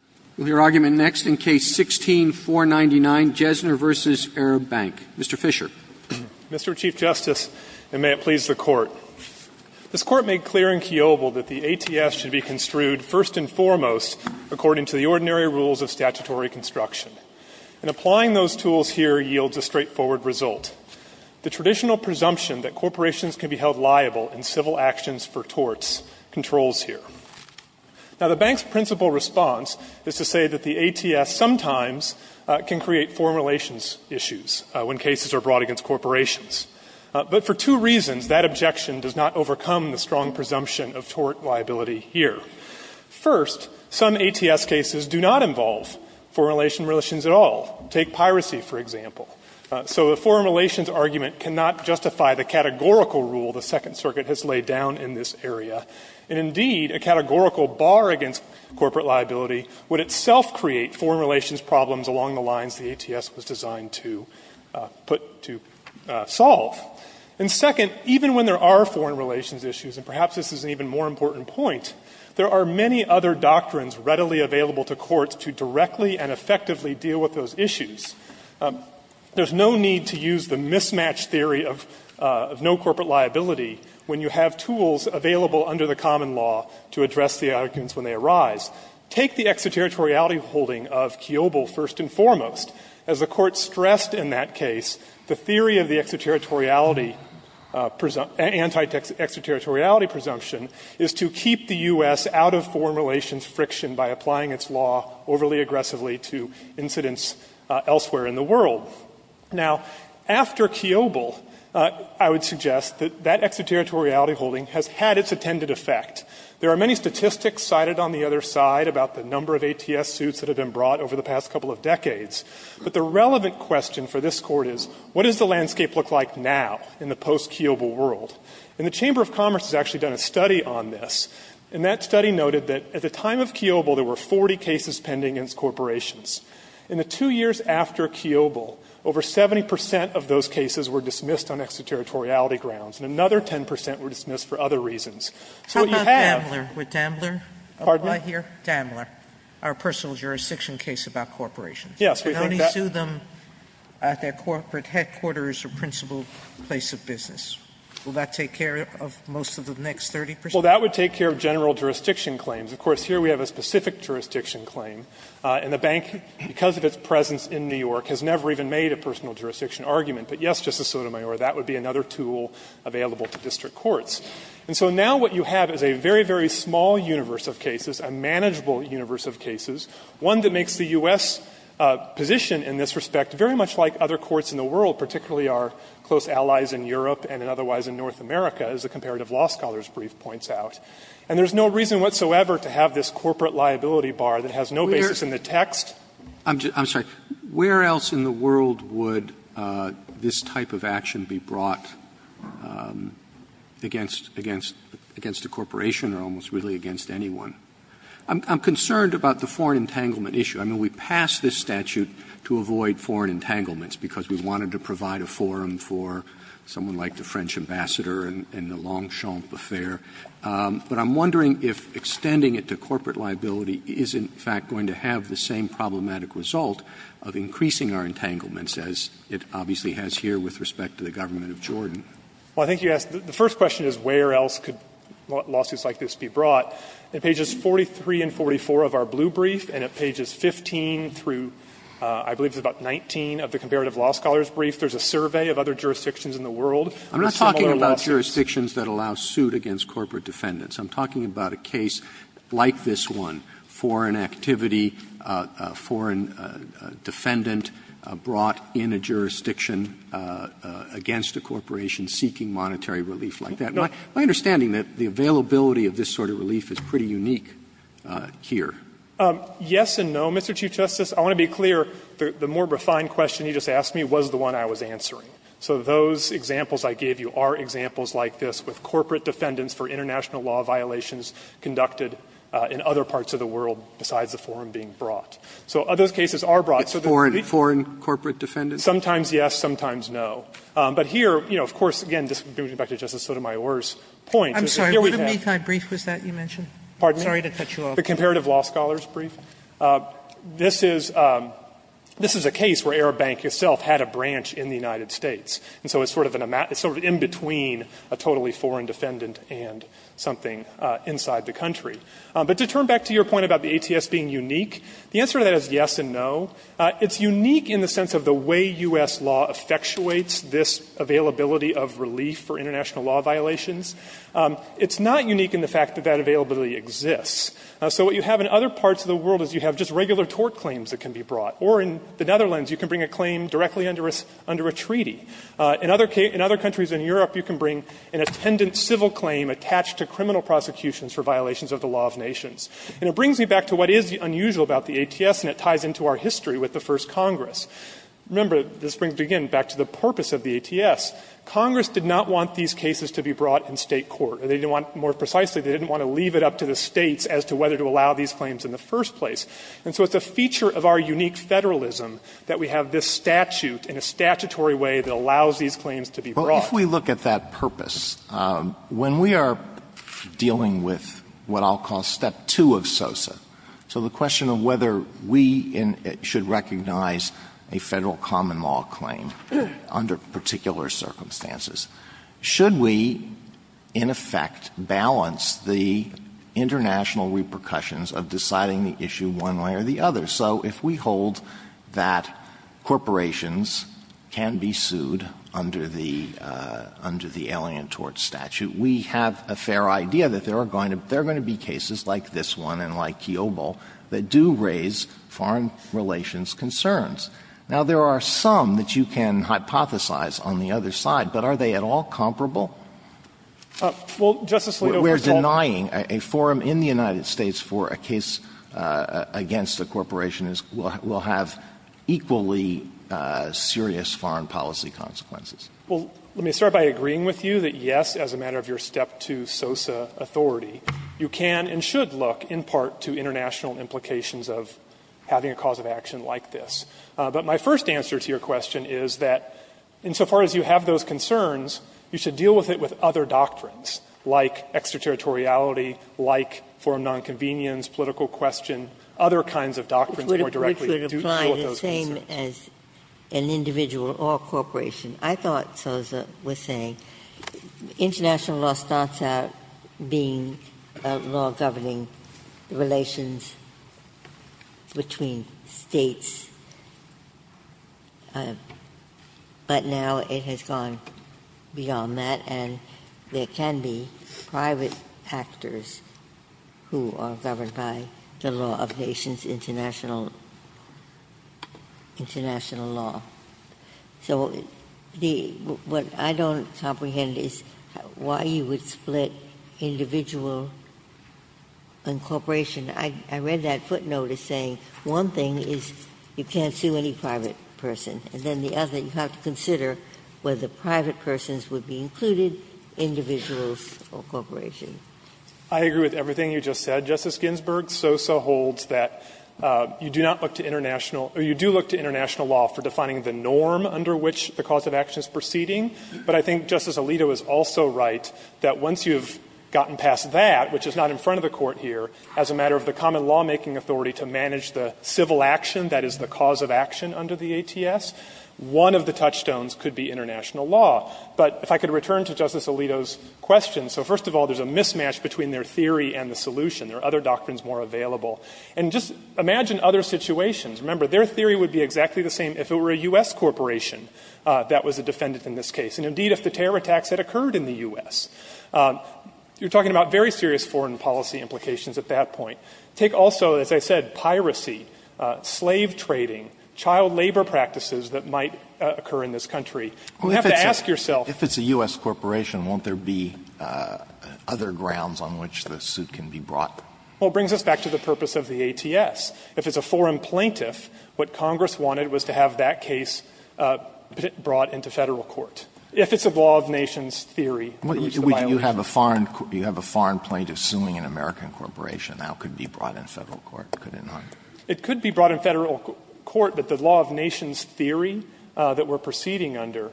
Roberts, Jr.: We'll hear argument next in Case 16-499, Jesner v. Arab Bank. Mr. Fisher. Fisher, Jr.: Mr. Chief Justice, and may it please the Court, this Court made clear in Keovil that the ATS should be construed first and foremost according to the ordinary rules of statutory construction. And applying those tools here yields a straightforward result. The traditional presumption that corporations can be held liable in civil actions for torts controls here. Now, the Bank's principal response is to say that the ATS sometimes can create foreign relations issues when cases are brought against corporations. But for two reasons, that objection does not overcome the strong presumption of tort liability here. First, some ATS cases do not involve foreign relations at all. Take piracy, for example. So the foreign relations argument cannot justify the categorical rule the Second Circuit has laid down in this area. And indeed, a categorical bar against corporate liability would itself create foreign relations problems along the lines the ATS was designed to put to solve. And second, even when there are foreign relations issues, and perhaps this is an even more important point, there are many other doctrines readily available to courts to directly and effectively deal with those issues. There's no need to use the mismatch theory of no corporate liability when you have tools available under the common law to address the arguments when they arise. Take the extraterritoriality holding of Kiobel, first and foremost. As the Court stressed in that case, the theory of the extraterritoriality presumption, anti-extraterritoriality presumption, is to keep the U.S. out of foreign relations friction by applying its law overly aggressively to incidents elsewhere in the world. Now, after Kiobel, I would suggest that that extraterritoriality holding has had its intended effect. There are many statistics cited on the other side about the number of ATS suits that have been brought over the past couple of decades. But the relevant question for this Court is, what does the landscape look like now in the post-Kiobel world? And the Chamber of Commerce has actually done a study on this, and that study noted that at the time of Kiobel there were 40 cases pending against corporations. In the two years after Kiobel, over 70 percent of those cases were dismissed on extraterritoriality grounds, and another 10 percent were dismissed for other reasons. So what you have are. Sotomayor, would Dambler apply here? Dambler, our personal jurisdiction case about corporations? Yes, we think that. I only sue them at their corporate headquarters or principal place of business. Will that take care of most of the next 30 percent? Well, that would take care of general jurisdiction claims. Of course, here we have a specific jurisdiction claim, and the bank, because of its presence in New York, has never even made a personal jurisdiction argument. But, yes, Justice Sotomayor, that would be another tool available to district courts. And so now what you have is a very, very small universe of cases, a manageable universe of cases, one that makes the U.S. position in this respect very much like other courts in the world, particularly our close allies in Europe and otherwise in North America, as a comparative law scholar's brief points out. And there's no reason whatsoever to have this corporate liability bar that has no basis in the text. Roberts, I'm sorry. Where else in the world would this type of action be brought against the corporation or almost really against anyone? I'm concerned about the foreign entanglement issue. I mean, we passed this statute to avoid foreign entanglements, because we wanted to provide a forum for someone like the French ambassador in the Longchamp affair. But I'm wondering if extending it to corporate liability is, in fact, going to have the same problematic result of increasing our entanglements as it obviously has here with respect to the government of Jordan. Well, I think you asked, the first question is where else could lawsuits like this be brought. At pages 43 and 44 of our blue brief, and at pages 15 through, I believe it's about 19 of the comparative law scholar's brief, there's a survey of other jurisdictions in the world. I'm not talking about jurisdictions that allow suit against corporate defendants. I'm talking about a case like this one, foreign activity, foreign defendant brought in a jurisdiction against a corporation seeking monetary relief like that. My understanding is that the availability of this sort of relief is pretty unique here. Yes and no, Mr. Chief Justice. I want to be clear, the more refined question you just asked me was the one I was answering. So those examples I gave you are examples like this with corporate defendants for international law violations conducted in other parts of the world besides the forum being brought. So those cases are brought. Roberts. Sotomayor. It's foreign, foreign corporate defendants? Sometimes yes, sometimes no. But here, you know, of course, again, disconnecting back to Justice Sotomayor's point, here we have. Sotomayor. I'm sorry, what Mekai brief was that you mentioned? Sorry to cut you off. The comparative law scholar's brief. This is a case where Arab Bank itself had a branch in the United States, and so it's sort of in between a totally foreign defendant and something inside the country. But to turn back to your point about the ATS being unique, the answer to that is yes and no. It's unique in the sense of the way U.S. law effectuates this availability of relief for international law violations. It's not unique in the fact that that availability exists. So what you have in other parts of the world is you have just regular tort claims that can be brought. Or in the Netherlands, you can bring a claim directly under a treaty. In other countries in Europe, you can bring an attendant civil claim attached to criminal prosecutions for violations of the law of nations. And it brings me back to what is unusual about the ATS, and it ties into our history with the first Congress. Remember, this brings, again, back to the purpose of the ATS. Congress did not want these cases to be brought in State court. They didn't want, more precisely, they didn't want to leave it up to the States as to whether to allow these claims in the first place. And so it's a feature of our unique federalism that we have this statute in a statutory way that allows these claims to be brought. Well, if we look at that purpose, when we are dealing with what I'll call step two of SOSA, so the question of whether we should recognize a Federal common law claim under particular circumstances, should we, in effect, balance the international repercussions of deciding the issue one way or the other? So if we hold that corporations can be sued under the Alien Tort Statute, we have a fair idea that there are going to be cases like this one and like Kiobel that do raise foreign relations concerns. Now, there are some that you can hypothesize on the other side, but are they at all comparable? Fisherman, We're denying a forum in the United States for a case against a corporation that will have equally serious foreign policy consequences. Fisherman, Well, let me start by agreeing with you that, yes, as a matter of your step two SOSA authority, you can and should look in part to international implications of having a cause of action like this. But my first answer to your question is that, insofar as you have those concerns, you should deal with it with other doctrines, like extraterritoriality, like forum nonconvenience, political question, other kinds of doctrines more directly deal with those concerns. Ginsburg, Which would apply the same as an individual or a corporation. I thought SOSA was saying international law starts out being a law governing relations between states. But now it has gone beyond that, and there can be private actors who are governed by the law of nations, international law. So what I don't comprehend is why you would split individual and corporation. I read that footnote as saying one thing is you can't sue any private person, and then the other, you have to consider whether private persons would be included, individuals, or corporation. Fisherman, I agree with everything you just said, Justice Ginsburg. SOSA holds that you do not look to international or you do look to international law for defining the norm under which the cause of action is proceeding. But I think Justice Alito is also right that once you have gotten past that, which is not in front of the Court here, as a matter of the common lawmaking authority to manage the civil action that is the cause of action under the ATS, one of the touchstones could be international law. But if I could return to Justice Alito's question. So first of all, there is a mismatch between their theory and the solution. There are other doctrines more available. And just imagine other situations. Remember, their theory would be exactly the same if it were a U.S. corporation that was a defendant in this case, and indeed if the terror attacks had occurred in the U.S. You are talking about very serious foreign policy implications at that point. Take also, as I said, piracy, slave trading, child labor practices that might occur in this country. You have to ask yourself. Alito, if it's a U.S. corporation, won't there be other grounds on which the suit can be brought? Fisherman, well, it brings us back to the purpose of the ATS. If it's a foreign plaintiff, what Congress wanted was to have that case brought into Federal court. If it's a law of nations theory, there is the violation. Alito, you have a foreign plaintiff suing an American corporation. That could be brought in Federal court, could it not? It could be brought in Federal court, but the law of nations theory that we are proceeding under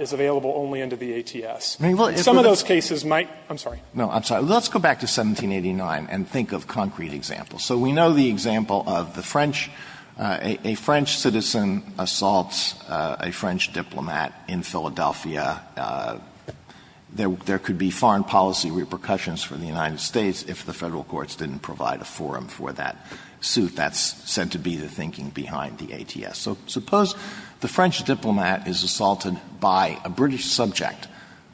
is available only under the ATS. Some of those cases might be. I'm sorry. No, I'm sorry. Let's go back to 1789 and think of concrete examples. So we know the example of the French, a French citizen assaults a French diplomat in Philadelphia. There could be foreign policy repercussions for the United States if the Federal courts didn't provide a forum for that suit. That's said to be the thinking behind the ATS. So suppose the French diplomat is assaulted by a British subject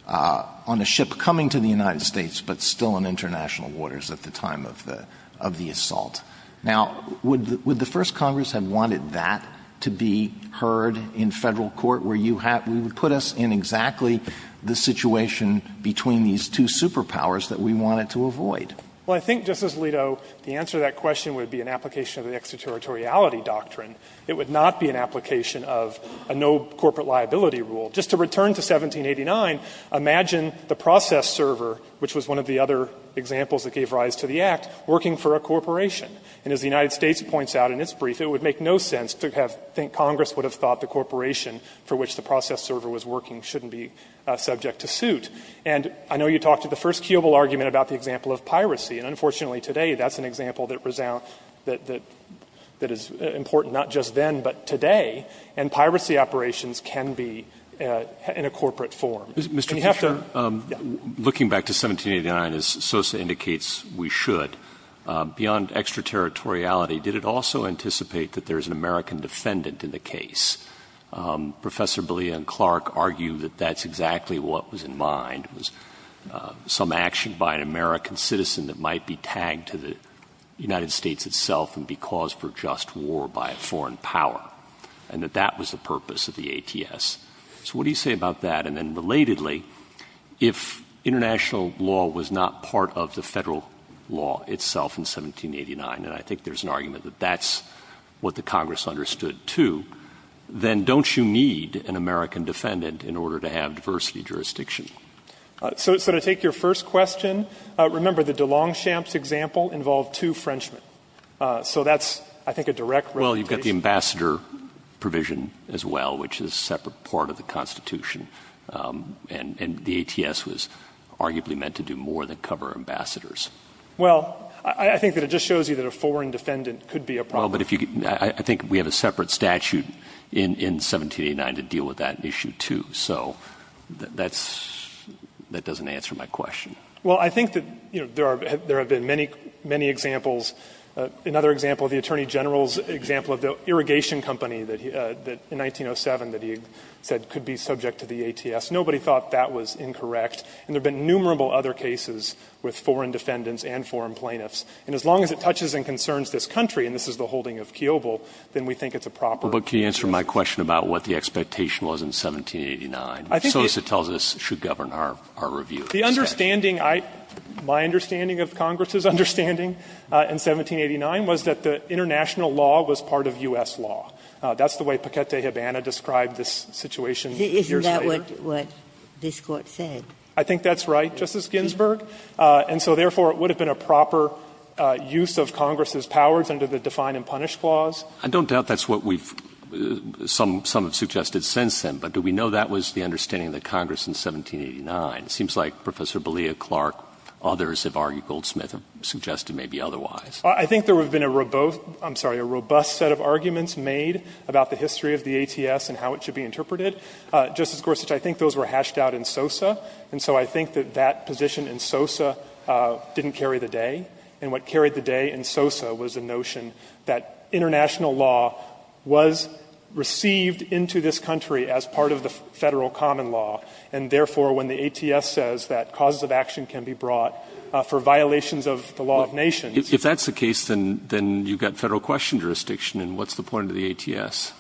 on a ship coming to the United States but still in international waters at the time of the assault. Now, would the First Congress have wanted that to be heard in Federal court where you have to put us in exactly the situation between these two superpowers that we wanted to avoid? Well, I think, Justice Alito, the answer to that question would be an application of the extraterritoriality doctrine. It would not be an application of a no corporate liability rule. Just to return to 1789, imagine the process server, which was one of the other examples that gave rise to the Act, working for a corporation. And as the United States points out in its brief, it would make no sense to have to think Congress would have thought the corporation for which the process server was working shouldn't be subject to suit. And I know you talked at the first Keeble argument about the example of piracy. And unfortunately today, that's an example that is important not just then, but today. And piracy operations can be in a corporate form. Mr. Fischer, looking back to 1789, as Sosa indicates, we should, beyond extraterritoriality, did it also anticipate that there is an American defendant in the case? Professor Beaulieu and Clark argue that that's exactly what was in mind, was some action by an American citizen that might be tagged to the United States itself and be caused for just war by a foreign power, and that that was the purpose of the ATS. So what do you say about that? And then relatedly, if international law was not part of the Federal law itself in 1789, and I think there's an argument that that's what the Congress understood too, then don't you need an American defendant in order to have diversity jurisdiction? So to take your first question, remember the de Longchamp's example involved two Frenchmen. So that's, I think, a direct representation. Well, you've got the ambassador provision as well, which is a separate part of the Constitution, and the ATS was arguably meant to do more than cover ambassadors. Well, I think that it just shows you that a foreign defendant could be a problem. Well, but I think we have a separate statute in 1789 to deal with that issue too. So that doesn't answer my question. Well, I think that there have been many, many examples. Another example, the Attorney General's example of the irrigation company that in 1907 that he said could be subject to the ATS. Nobody thought that was incorrect, and there have been numerable other cases with foreign defendants and foreign plaintiffs. And as long as it touches and concerns this country, and this is the holding of Kiobel, then we think it's a proper case. But can you answer my question about what the expectation was in 1789, so as it tells us it should govern our review? The understanding I — my understanding of Congress's understanding in 1789 was that the international law was part of U.S. law. That's the way Paquette de Havana described this situation years later. Isn't that what this Court said? I think that's right, Justice Ginsburg. And so, therefore, it would have been a proper use of Congress's powers under the Define and Punish Clause. I don't doubt that's what we've — some have suggested since then, but do we know that was the understanding of the Congress in 1789? It seems like Professor B'Leah Clark, others have argued, Goldsmith has suggested maybe otherwise. I think there have been a robust — I'm sorry, a robust set of arguments made about the history of the ATS and how it should be interpreted. Justice Gorsuch, I think those were hashed out in SOSA, and so I think that that position in SOSA didn't carry the day. And what carried the day in SOSA was the notion that international law was received into this country as part of the Federal common law, and, therefore, when the ATS says that causes of action can be brought for violations of the law of nations — If that's the case, then you've got Federal question jurisdiction, and what's the point of the ATS?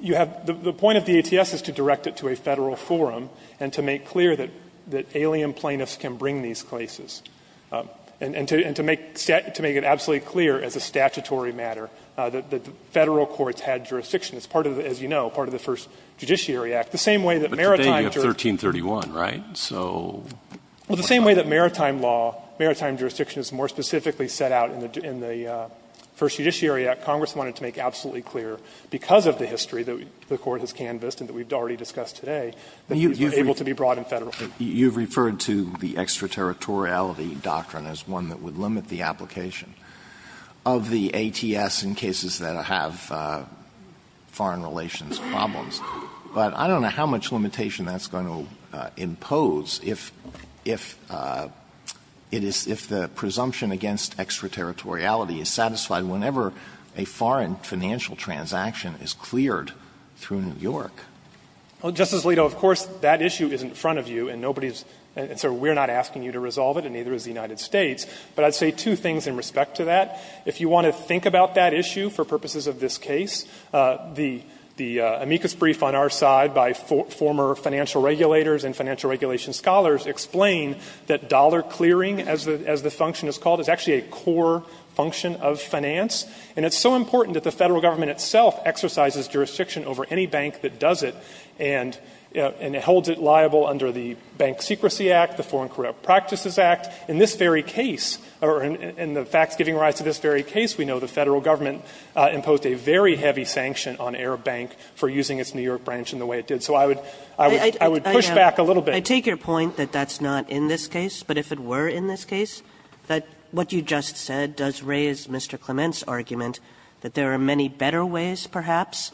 You have — the point of the ATS is to direct it to a Federal forum and to make clear that alien plaintiffs can bring these cases, and to make it absolutely clear as a statutory matter that the Federal courts had jurisdiction. It's part of the — as you know, part of the first Judiciary Act, the same way that — Well, the same way that Maritime law, Maritime jurisdiction is more specifically set out in the First Judiciary Act, Congress wanted to make absolutely clear, because of the history that the Court has canvassed and that we've already discussed today, that it was able to be brought in Federal. You've referred to the extraterritoriality doctrine as one that would limit the application of the ATS in cases that have foreign relations problems, but I don't know how much limitation that's going to impose if — if it is — if the presumption against extraterritoriality is satisfied whenever a foreign financial transaction is cleared through New York. Justice Alito, of course, that issue is in front of you, and nobody's — and so we're not asking you to resolve it, and neither is the United States, but I'd say two things in respect to that. If you want to think about that issue for purposes of this case, the amicus brief on our side by former financial regulators and financial regulation scholars explain that dollar clearing, as the — as the function is called, is actually a core function of finance, and it's so important that the Federal Government itself exercises jurisdiction over any bank that does it, and — and holds it liable under the Bank Secrecy Act, the Foreign Corrupt Practices Act. In this very case, or in the facts giving rise to this very case, we know the Federal Government imposed a very heavy sanction on Arab Bank for using its New York branch in the way it did. So I would — I would — I would push back a little bit. Kagan. I take your point that that's not in this case, but if it were in this case, that what you just said does raise Mr. Clement's argument that there are many better ways, perhaps,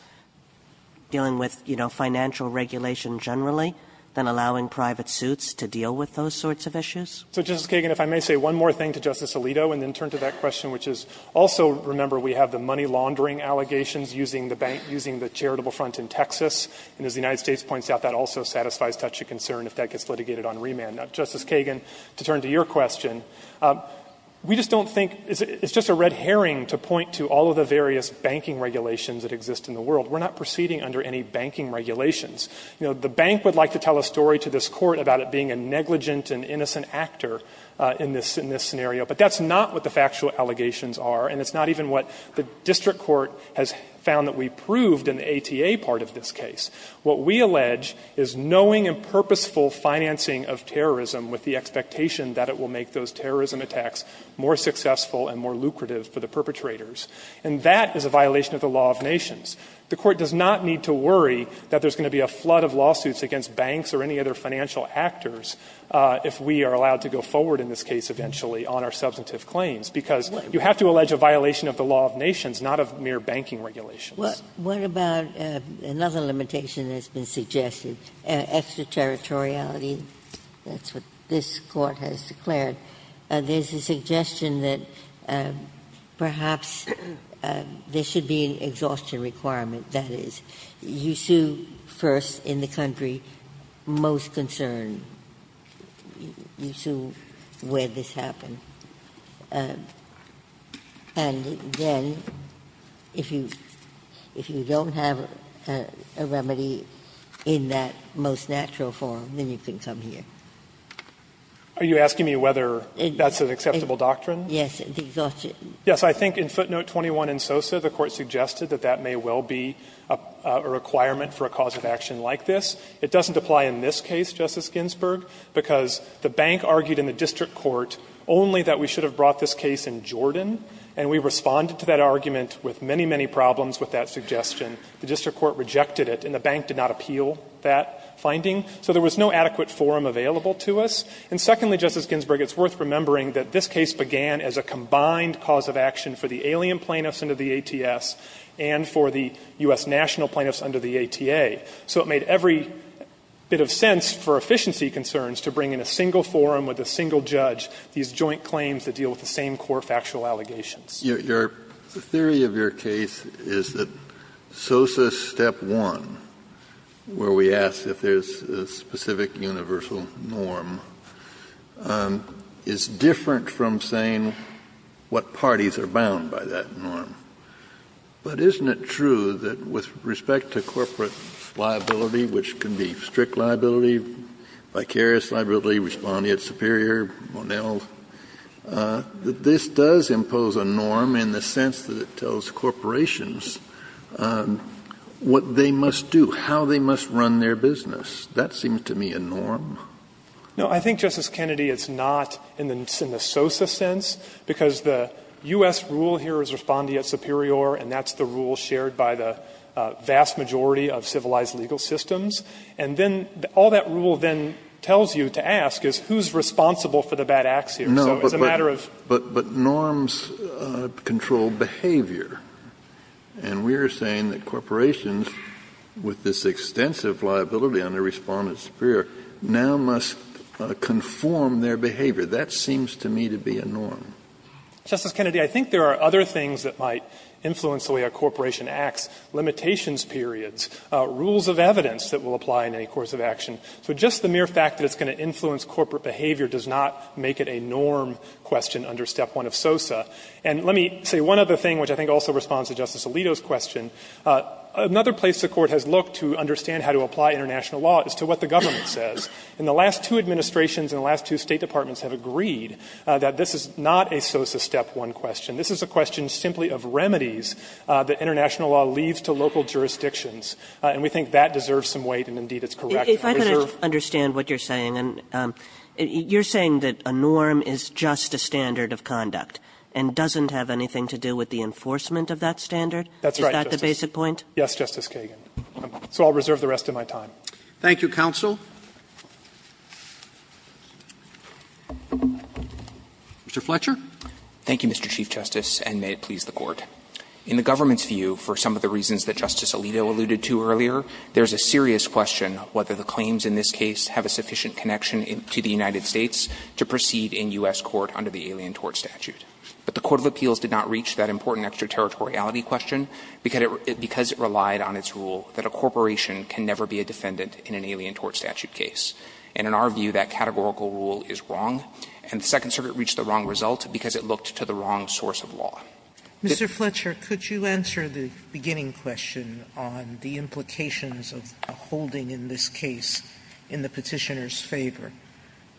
dealing with, you know, financial regulation generally than allowing private suits to deal with those sorts of issues? So, Justice Kagan, if I may say one more thing to Justice Alito, and then turn to that case where we have the money-laundering allegations using the bank — using the charitable front in Texas, and as the United States points out, that also satisfies touchy concern if that gets litigated on remand. Now, Justice Kagan, to turn to your question, we just don't think — it's just a red herring to point to all of the various banking regulations that exist in the world. We're not proceeding under any banking regulations. You know, the bank would like to tell a story to this Court about it being a negligent and innocent actor in this — in this scenario, but that's not what the factual allegations are, and it's not even what the district court has found that we proved in the ATA part of this case. What we allege is knowing and purposeful financing of terrorism with the expectation that it will make those terrorism attacks more successful and more lucrative for the perpetrators, and that is a violation of the law of nations. The Court does not need to worry that there's going to be a flood of lawsuits against banks or any other financial actors if we are allowed to go forward in this case, eventually, on our substantive claims, because you have to allege a violation of the law of nations, not of mere banking regulations. Ginsburg. What about another limitation that's been suggested, extraterritoriality? That's what this Court has declared. There's a suggestion that perhaps there should be an exhaustion requirement, that is, you sue first in the country most concerned. You sue where this happened. And then if you don't have a remedy in that most natural form, then you can come here. Are you asking me whether that's an acceptable doctrine? Yes. The exhaustion. Yes. I think in footnote 21 in Sosa, the Court suggested that that may well be a requirement for a cause of action like this. It doesn't apply in this case, Justice Ginsburg, because the bank argued in the district court only that we should have brought this case in Jordan, and we responded to that argument with many, many problems with that suggestion. The district court rejected it, and the bank did not appeal that finding. So there was no adequate forum available to us. And secondly, Justice Ginsburg, it's worth remembering that this case began as a combined cause of action for the alien plaintiffs under the ATS and for the U.S. national plaintiffs under the ATA. So it made every bit of sense for efficiency concerns to bring in a single forum with a single judge, these joint claims that deal with the same core factual allegations. Kennedy, the theory of your case is that Sosa step one, where we ask if there's a specific universal norm, is different from saying what parties are bound by that norm. But isn't it true that with respect to corporate liability, which can be strict liability, vicarious liability, respondeat superior, Monel, that this does impose a norm in the sense that it tells corporations what they must do, how they must run their business. That seems to me a norm. No, I think, Justice Kennedy, it's not in the Sosa sense, because the U.S. rule here is respondeat superior, and that's the rule shared by the vast majority of civilized legal systems. And then all that rule then tells you to ask is who's responsible for the bad acts here. So it's a matter of ---- No, but norms control behavior. And we are saying that corporations, with this extensive liability under respondeat superior, now must conform their behavior. That seems to me to be a norm. Justice Kennedy, I think there are other things that might influence the way a corporation acts, limitations periods, rules of evidence that will apply in any course of action. So just the mere fact that it's going to influence corporate behavior does not make it a norm question under Step 1 of Sosa. And let me say one other thing, which I think also responds to Justice Alito's question. Another place the Court has looked to understand how to apply international law is to what the government says. In the last two administrations and the last two State departments have agreed that this is not a Sosa Step 1 question. This is a question simply of remedies that international law leaves to local jurisdictions. And we think that deserves some weight, and indeed it's correct. If I could understand what you're saying. You're saying that a norm is just a standard of conduct and doesn't have anything to do with the enforcement of that standard? That's right. Is that the basic point? Yes, Justice Kagan. So I'll reserve the rest of my time. Thank you, counsel. Mr. Fletcher. Thank you, Mr. Chief Justice, and may it please the Court. In the government's view, for some of the reasons that Justice Alito alluded to earlier, there's a serious question whether the claims in this case have a sufficient connection to the United States to proceed in U.S. Court under the Alien Tort Statute. But the Court of Appeals did not reach that important extraterritoriality question because it relied on its rule that a corporation can never be a defendant in an Alien Tort Statute case. And in our view, that categorical rule is wrong, and the Second Circuit reached the wrong result because it looked to the wrong source of law. Mr. Fletcher, could you answer the beginning question on the implications of a holding in this case in the Petitioner's favor?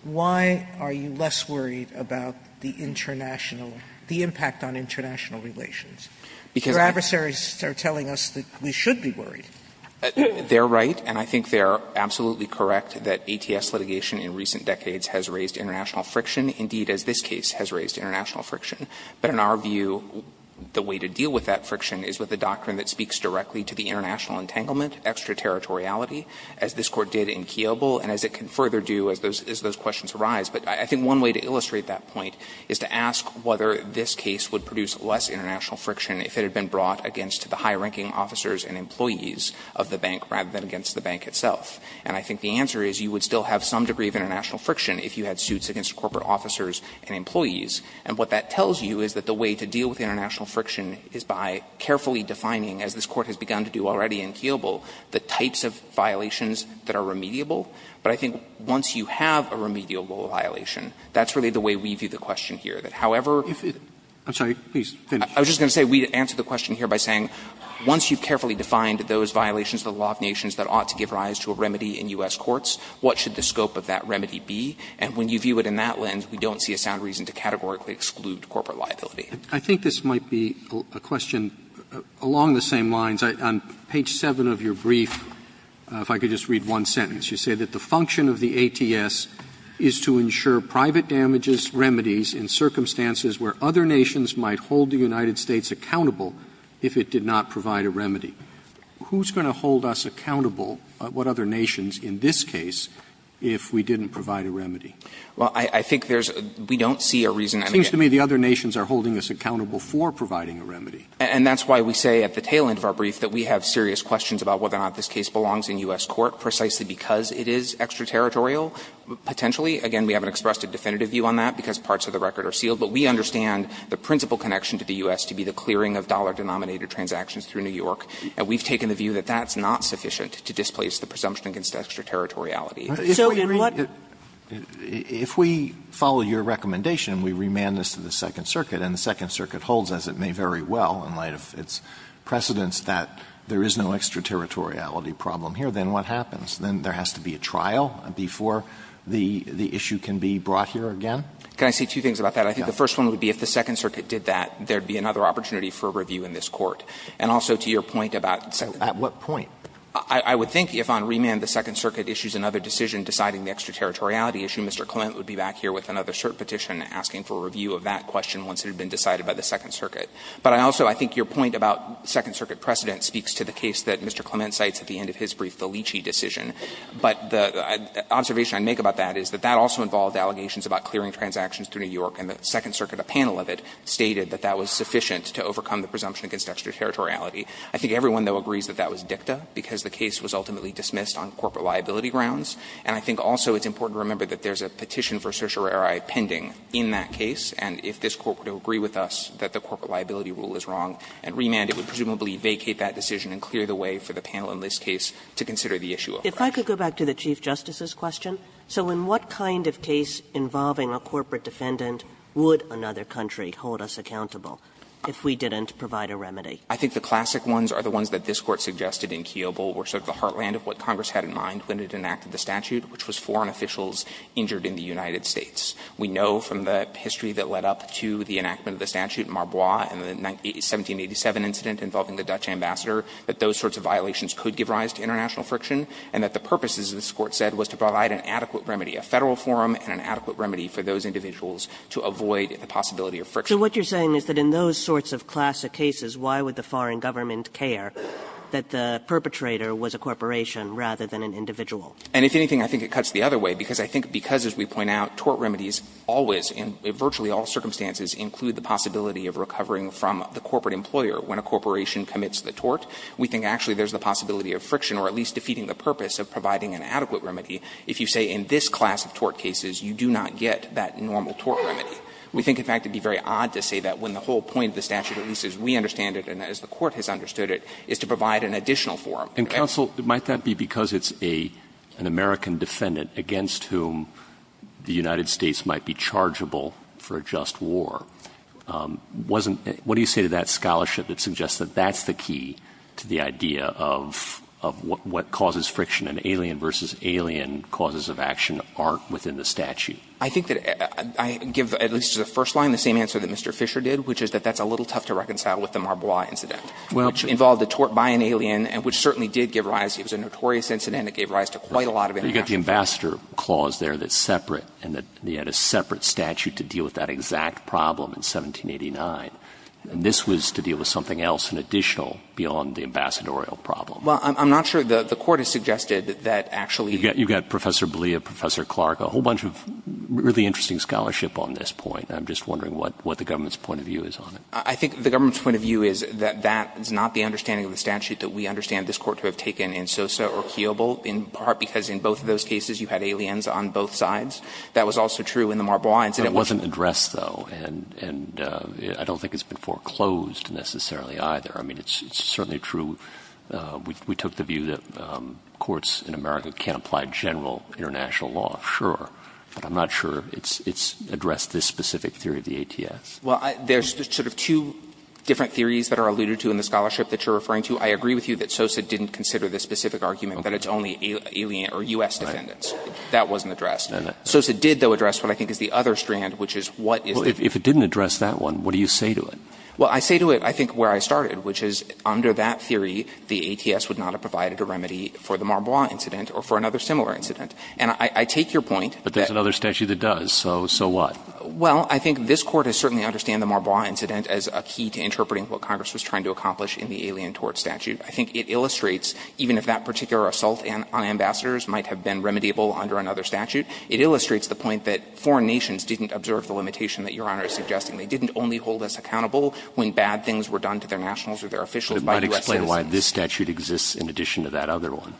Why are you less worried about the international – the impact on international relations? Because your adversaries are telling us that we should be worried. They're right, and I think they're absolutely correct that ATS litigation in recent decades has raised international friction, indeed, as this case has raised international friction. But in our view, the way to deal with that friction is with a doctrine that speaks directly to the international entanglement, extraterritoriality, as this Court did in Kiobel, and as it can further do as those questions arise. But I think one way to illustrate that point is to ask whether this case would produce less international friction if it had been brought against the high-ranking officers and employees of the bank rather than against the bank itself. And I think the answer is you would still have some degree of international friction if you had suits against corporate officers and employees. And what that tells you is that the way to deal with international friction is by carefully defining, as this Court has begun to do already in Kiobel, the types of violations that are remediable. But I think once you have a remediable violation, that's really the way we view the question here, that however – Robertson, I'm sorry, please finish. I was just going to say we answer the question here by saying, once you've carefully defined those violations of the law of nations that ought to give rise to a remedy in U.S. courts, what should the scope of that remedy be? And when you view it in that lens, we don't see a sound reason to categorically exclude corporate liability. Robertson, I think this might be a question along the same lines. On page 7 of your brief, if I could just read one sentence, you say that the function of the ATS is to ensure private damages, remedies in circumstances where other nations might hold the United States accountable if it did not provide a remedy. Who's going to hold us accountable, what other nations, in this case, if we didn't provide a remedy? Well, I think there's – we don't see a reason. It seems to me the other nations are holding us accountable for providing a remedy. And that's why we say at the tail end of our brief that we have serious questions about whether or not this case belongs in U.S. court precisely because it is extraterritorial potentially. Again, we haven't expressed a definitive view on that because parts of the record are sealed. But we understand the principal connection to the U.S. to be the clearing of dollar denominator transactions through New York. And we've taken the view that that's not sufficient to displace the presumption against extraterritoriality. Alito, if we remand this to the Second Circuit, and the Second Circuit holds as it may very well in light of its precedents that there is no extraterritoriality problem here, then what happens? Then there has to be a trial before the issue can be brought here again? Can I say two things about that? I think the first one would be if the Second Circuit did that, there would be another opportunity for a review in this Court. And also to your point about the Second Circuit. Alito, at what point? I would think if on remand the Second Circuit issues another decision deciding the extraterritoriality issue, Mr. Clement would be back here with another cert petition asking for a review of that question once it had been decided by the Second Circuit. But I also think your point about Second Circuit precedent speaks to the case that Mr. Clement cites at the end of his brief, the Leachy decision. But the observation I make about that is that that also involved allegations about clearing transactions through New York, and the Second Circuit, a panel of it, stated that that was sufficient to overcome the presumption against extraterritoriality. I think everyone, though, agrees that that was dicta, because the case was ultimately dismissed on corporate liability grounds. And I think also it's important to remember that there's a petition for certiorari pending in that case, and if this Court were to agree with us that the corporate liability rule is wrong, on remand it would presumably vacate that decision and clear the way for the panel in this case to consider the issue of correction. If I could go back to the Chief Justice's question. So in what kind of case involving a corporate defendant would another country hold us accountable if we didn't provide a remedy? I think the classic ones are the ones that this Court suggested in Kiobel were sort of the heartland of what Congress had in mind when it enacted the statute, which was foreign officials injured in the United States. We know from the history that led up to the enactment of the statute in Marbois and the 1787 incident involving the Dutch ambassador that those sorts of violations could give rise to international friction, and that the purpose, as this Court said, was to provide an adequate remedy, a Federal forum and an adequate remedy for those individuals to avoid the possibility of friction. So what you're saying is that in those sorts of classic cases, why would the foreign government care that the perpetrator was a corporation rather than an individual? And if anything, I think it cuts the other way, because I think because, as we point out, tort remedies always, in virtually all circumstances, include the possibility of recovering from the corporate employer when a corporation commits the tort. We think actually there's the possibility of friction or at least defeating the purpose of providing an adequate remedy if you say in this class of tort cases you do not get that normal tort remedy. We think, in fact, it would be very odd to say that when the whole point of the statute, at least as we understand it and as the Court has understood it, is to provide an additional forum. And counsel, might that be because it's a an American defendant against whom the United States might be chargeable for a just war? Wasn't — what do you say to that scholarship that suggests that that's the key to the idea of what causes friction in alien versus alien causes of action aren't within the statute? I think that I give, at least as a first line, the same answer that Mr. Fisher did, which is that that's a little tough to reconcile with the Marbois incident, which involved a tort by an alien, which certainly did give rise — it was a notorious incident. It gave rise to quite a lot of interaction. You've got the ambassador clause there that's separate and that they had a separate statute to deal with that exact problem in 1789. And this was to deal with something else, an additional, beyond the ambassadorial problem. Well, I'm not sure the Court has suggested that actually — You've got Professor Blea, Professor Clark, a whole bunch of really interesting scholarship on this point. I'm just wondering what the government's point of view is on it. I think the government's point of view is that that is not the understanding of the statute that we understand this Court to have taken in Sosa or Kiobel, in part because in both of those cases you had aliens on both sides. That was also true in the Marbois incident. It wasn't addressed, though, and I don't think it's been foreclosed necessarily either. I mean, it's certainly true. We took the view that courts in America can't apply general international law, sure. But I'm not sure it's addressed this specific theory of the ATS. Well, there's sort of two different theories that are alluded to in the scholarship that you're referring to. I agree with you that Sosa didn't consider this specific argument, that it's only alien or U.S. defendants. That wasn't addressed. Sosa did, though, address what I think is the other strand, which is what is the If it didn't address that one, what do you say to it? Well, I say to it, I think, where I started, which is under that theory, the ATS would not have provided a remedy for the Marbois incident or for another similar incident. And I take your point. But there's another statute that does. So what? Well, I think this Court has certainly understand the Marbois incident as a key to interpreting what Congress was trying to accomplish in the alien tort statute. I think it illustrates even if that particular assault on ambassadors might have been remediable under another statute, it illustrates the point that foreign nations didn't observe the limitation that Your Honor is suggesting. They didn't only hold us accountable when bad things were done to their nationals or their officials by U.S. citizens. But it might explain why this statute exists in addition to that other one.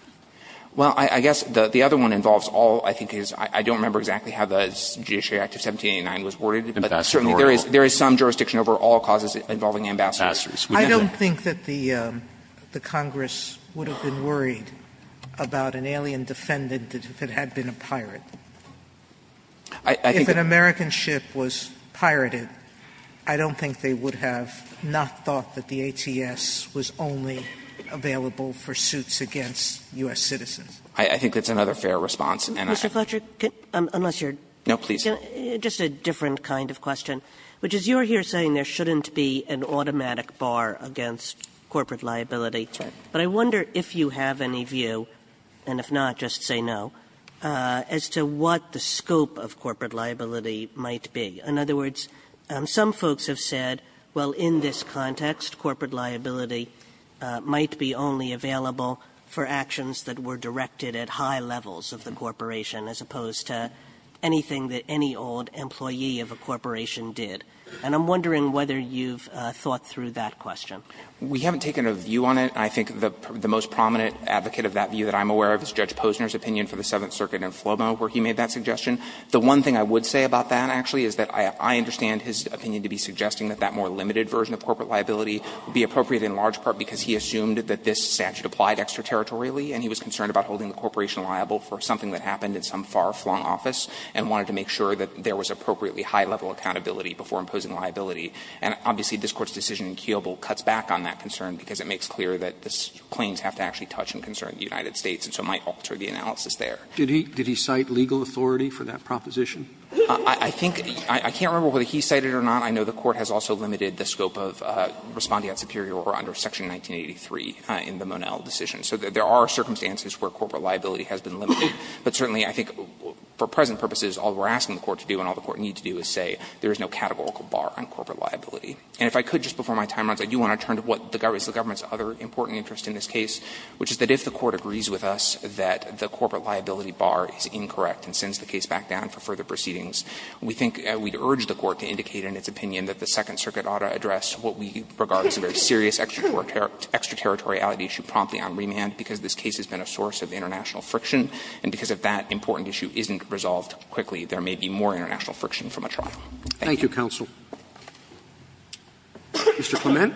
Well, I guess the other one involves all, I think, I don't remember exactly how the Judiciary Act of 1789 was worded, but certainly there is some jurisdiction over all causes involving ambassadors. I don't think that the Congress would have been worried about an alien defendant if it had been a pirate. I think that if an American ship was pirated, I don't think they would have not thought that the ATS was only available for suits against U.S. citizens. I think that's another fair response. And I think Mr. Fletcher, unless you're No, please. Just a different kind of question, which is you're here saying there shouldn't be an automatic bar against corporate liability. That's right. But I wonder if you have any view, and if not, just say no, as to what the scope of corporate liability might be. In other words, some folks have said, well, in this context, corporate liability might be only available for actions that were directed at high levels of the corporation, as opposed to anything that any old employee of a corporation did. And I'm wondering whether you've thought through that question. We haven't taken a view on it. I think the most prominent advocate of that view that I'm aware of is Judge Posner's opinion for the Seventh Circuit in Flomo, where he made that suggestion. The one thing I would say about that, actually, is that I understand his opinion to be suggesting that that more limited version of corporate liability would be appropriate in large part because he assumed that this statute applied extraterritorially, and he was concerned about holding the corporation liable for something that happened in some far-flung office, and wanted to make sure that there was appropriately high-level accountability before imposing liability. And obviously, this Court's decision in Keobel cuts back on that concern because it makes clear that the claims have to actually touch and concern the United States, and so it might alter the analysis there. Roberts. Did he cite legal authority for that proposition? I think he – I can't remember whether he cited it or not. I know the Court has also limited the scope of respondeat superior or under Section 1983 in the Monell decision. So there are circumstances where corporate liability has been limited, but certainly I think for present purposes, all we're asking the Court to do and all the Court needs to do is say there is no categorical bar on corporate liability. And if I could, just before my time runs out, I do want to turn to what is the government's other important interest in this case, which is that if the Court agrees with us that the corporate liability bar is incorrect and sends the case back down for further proceedings, we think we'd urge the Court to indicate in its opinion that the Second Circuit ought to address what we regard as a very serious extraterritoriality issue promptly on remand, because this case has been a source of international friction, and because if that important issue isn't resolved quickly, there may be more international friction from a trial. Thank you. Roberts. Thank you, counsel. Mr. Clement.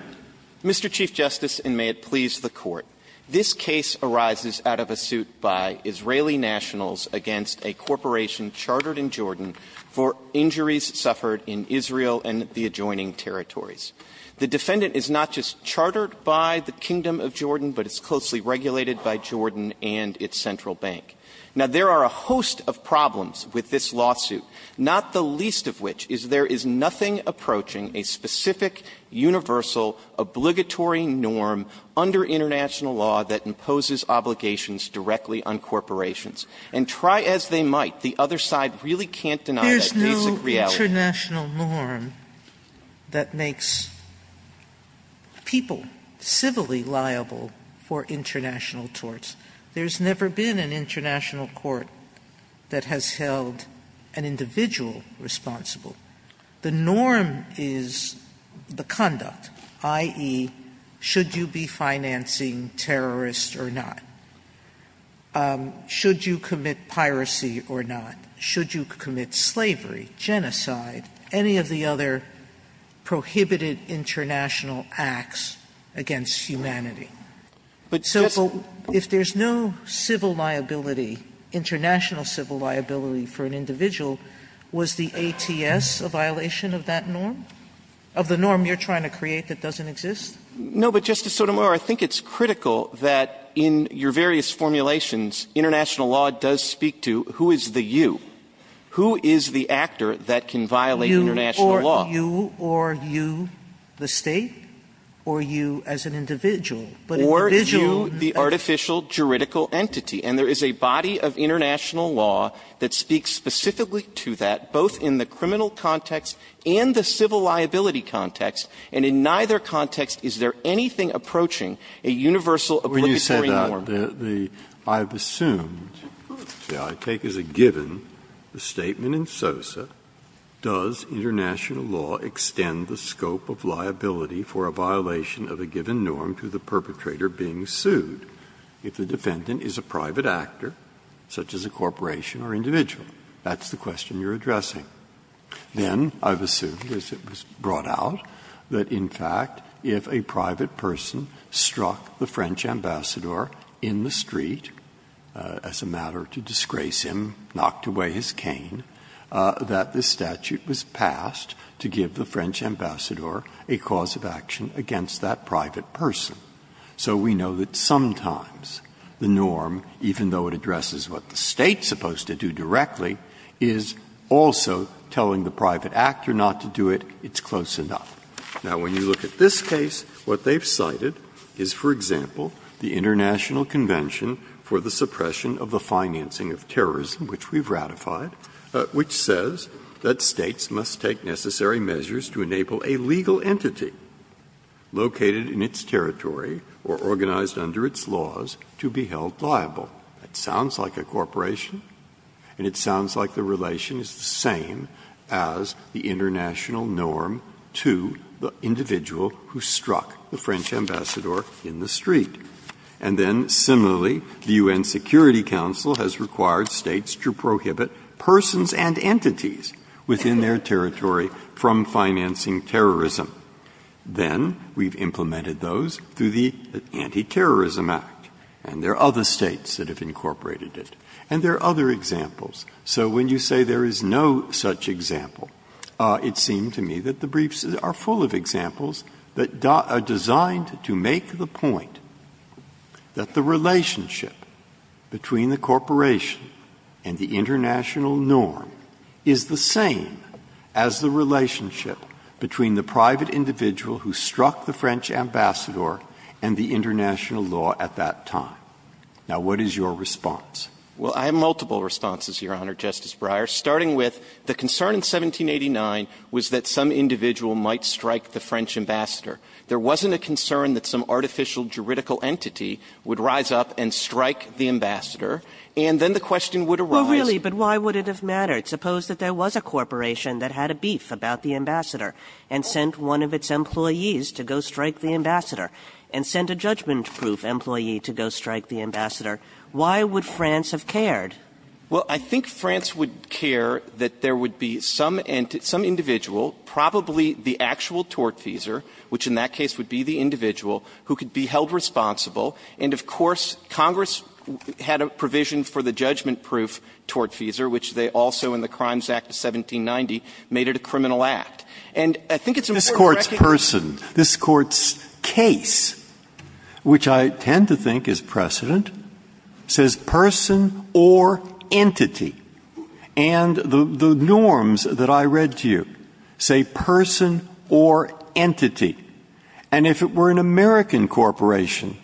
Mr. Chief Justice, and may it please the Court. This case arises out of a suit by Israeli nationals against a corporation chartered in Jordan for injuries suffered in Israel and the adjoining territories. The defendant is not just chartered by the Kingdom of Jordan, but it's closely regulated by Jordan and its central bank. Now, there are a host of problems with this lawsuit, not the least of which is there is nothing approaching a specific, universal, obligatory norm under international law that imposes obligations directly on corporations. And try as they might, the other side really can't deny that basic reality. Sotomayor, there's no international norm that makes people civilly liable for international torts. There's never been an international court that has held an individual responsible. The norm is the conduct, i.e., should you be financing terrorists or not? Should you commit piracy or not? Should you commit slavery, genocide, any of the other prohibited international acts against humanity? So if there's no civil liability, international civil liability for an individual, was the ATS a violation of that norm, of the norm you're trying to create that doesn't exist? No, but, Justice Sotomayor, I think it's critical that in your various formulations, international law does speak to who is the you, who is the actor that can violate international law. Sotomayor, you or you, the State, or you as an individual, but an individual that's not. Or you, the artificial juridical entity. And there is a body of international law that speaks specifically to that, both in the criminal context and the civil liability context. And in neither context is there anything approaching a universal obligatory norm. When you said that, I've assumed, shall I take as a given, the statement in SOSA, does international law extend the scope of liability for a violation of a given norm to the perpetrator being sued if the defendant is a private actor, such as a corporation or individual? That's the question you're addressing. Then I've assumed, as it was brought out, that in fact, if a private person struck the French ambassador in the street as a matter to disgrace him, knocked away his badge, that this statute was passed to give the French ambassador a cause of action against that private person. So we know that sometimes the norm, even though it addresses what the State is supposed to do directly, is also telling the private actor not to do it. It's close enough. Now, when you look at this case, what they've cited is, for example, the International Convention for the Suppression of the Financing of Terrorism, which we've ratified, which says that States must take necessary measures to enable a legal entity located in its territory or organized under its laws to be held liable. That sounds like a corporation, and it sounds like the relation is the same as the international norm to the individual who struck the French ambassador in the street. And then, similarly, the U.N. Security Council has required States to prohibit persons and entities within their territory from financing terrorism. Then we've implemented those through the Anti-Terrorism Act, and there are other States that have incorporated it, and there are other examples. So when you say there is no such example, it seemed to me that the briefs are full of examples that are designed to make the point that the relationship between the corporation and the international norm is the same as the relationship between the private individual who struck the French ambassador and the international law at that time. Now, what is your response? Well, I have multiple responses, Your Honor, Justice Breyer, starting with the concern in 1789 was that some individual might strike the French ambassador. There wasn't a concern that some artificial juridical entity would rise up and strike the ambassador, and then the question would arise. Well, really, but why would it have mattered? Suppose that there was a corporation that had a beef about the ambassador and sent one of its employees to go strike the ambassador and sent a judgment-proof employee to go strike the ambassador. Why would France have cared? Well, I think France would care that there would be some individual, probably the actual tortfeasor, which in that case would be the individual, who could be held responsible, and of course, Congress had a provision for the judgment-proof tortfeasor, which they also, in the Crimes Act of 1790, made it a criminal act. And I think it's important to recognize that this Court's person, this Court's case, which I tend to think is precedent, says person or entity. And the norms that I read to you say person or entity. And if it were an American corporation,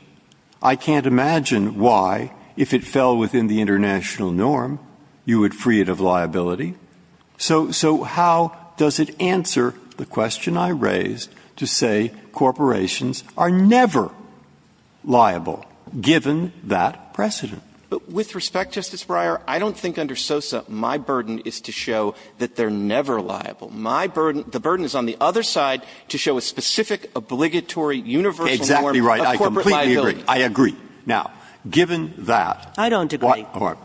I can't imagine why, if it fell within the international norm, you would free it of liability. So how does it answer the question I raised to say corporations are never liable, given that precedent? With respect, Justice Breyer, I don't think under SOSA my burden is to show that they're never liable. My burden – the burden is on the other side to show a specific obligatory universal norm of corporate liability. Exactly right. I completely agree. Now, given that, what are we going to do about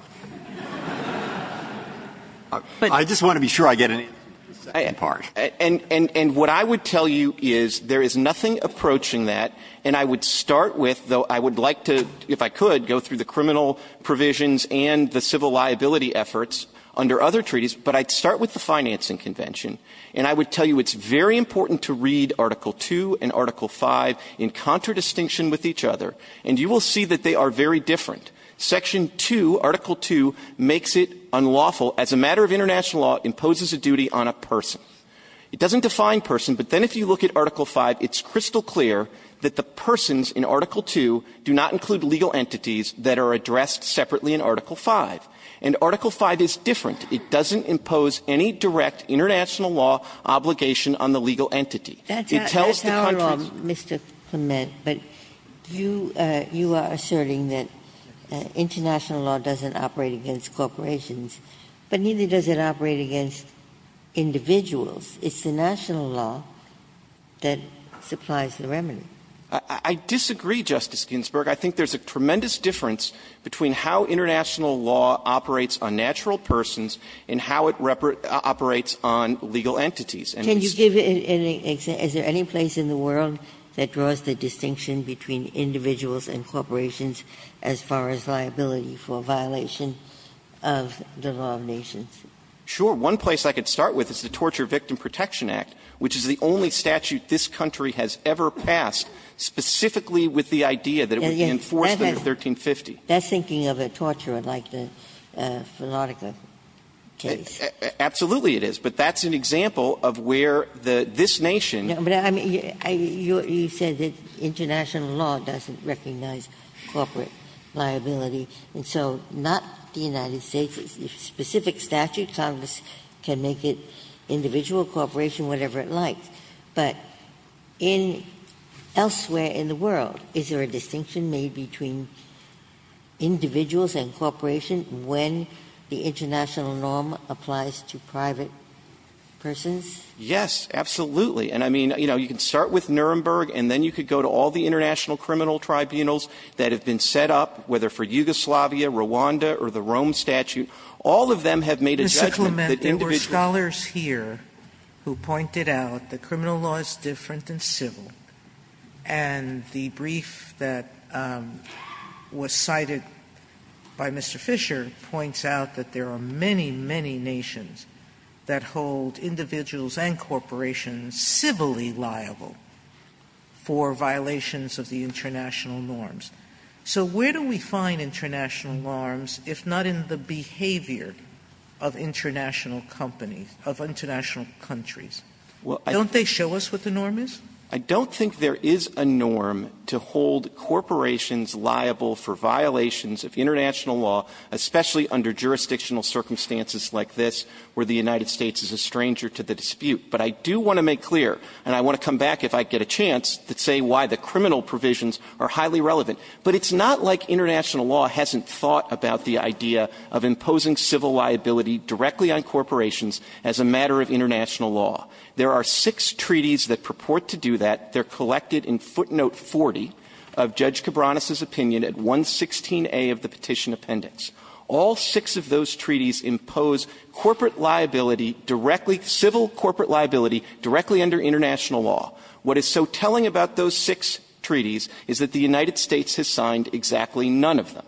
it? I just want to be sure I get any of the second part. And what I would tell you is there is nothing approaching that. And I would start with, though I would like to, if I could, go through the criminal provisions and the civil liability efforts under other treaties. But I'd start with the financing convention. And I would tell you it's very important to read Article II and Article V in contradistinction with each other. And you will see that they are very different. Section 2, Article II, makes it unlawful, as a matter of international law, imposes a duty on a person. It doesn't define person, but then if you look at Article V, it's crystal clear that the persons in Article II do not include legal entities that are addressed separately in Article V. And Article V is different. It doesn't impose any direct international law obligation on the legal entity. It tells the country's – Ginsburg. But you are asserting that international law doesn't operate against corporations, but neither does it operate against individuals. It's the national law that supplies the remedy. I disagree, Justice Ginsburg. I think there's a tremendous difference between how international law operates on natural persons and how it operates on legal entities. And it's true. Ginsburg. Can you give any – is there any place in the world that draws the distinction between individuals and corporations as far as liability for violation of the law of nations? Sure. One place I could start with is the Torture Victim Protection Act, which is the only statute this country has ever passed specifically with the idea that it would enforce under 1350. That's thinking of a torturer like the Fanatica case. Absolutely it is. But that's an example of where the – this nation – But, I mean, you said that international law doesn't recognize corporate liability. And so not the United States. A specific statute, Congress can make it individual, corporation, whatever it likes. But in – elsewhere in the world, is there a distinction made between individuals and corporations when the international norm applies to private persons? Yes, absolutely. And, I mean, you know, you can start with Nuremberg, and then you could go to all the international criminal tribunals that have been set up, whether for Yugoslavia, Rwanda, or the Rome statute. All of them have made a judgment that individuals – Mr. Clement, there were scholars here who pointed out that criminal law is different than civil, and the brief that was cited by Mr. Fisher points out that there are many, many nations that hold individuals and corporations civilly liable for violations of the international norms. So where do we find international norms, if not in the behavior of international companies, of international countries? Don't they show us what the norm is? I don't think there is a norm to hold corporations liable for violations of international law, especially under jurisdictional circumstances like this, where the United States is a stranger to the dispute. But I do want to make clear, and I want to come back if I get a chance, to say why the criminal provisions are highly relevant. But it's not like international law hasn't thought about the idea of imposing civil liability directly on corporations as a matter of international law. There are six treaties that purport to do that. They're collected in footnote 40 of Judge Cabranes' opinion at 116A of the petition appendix. All six of those treaties impose corporate liability directly – civil corporate liability directly under international law. What is so telling about those six treaties is that the United States has signed exactly none of them.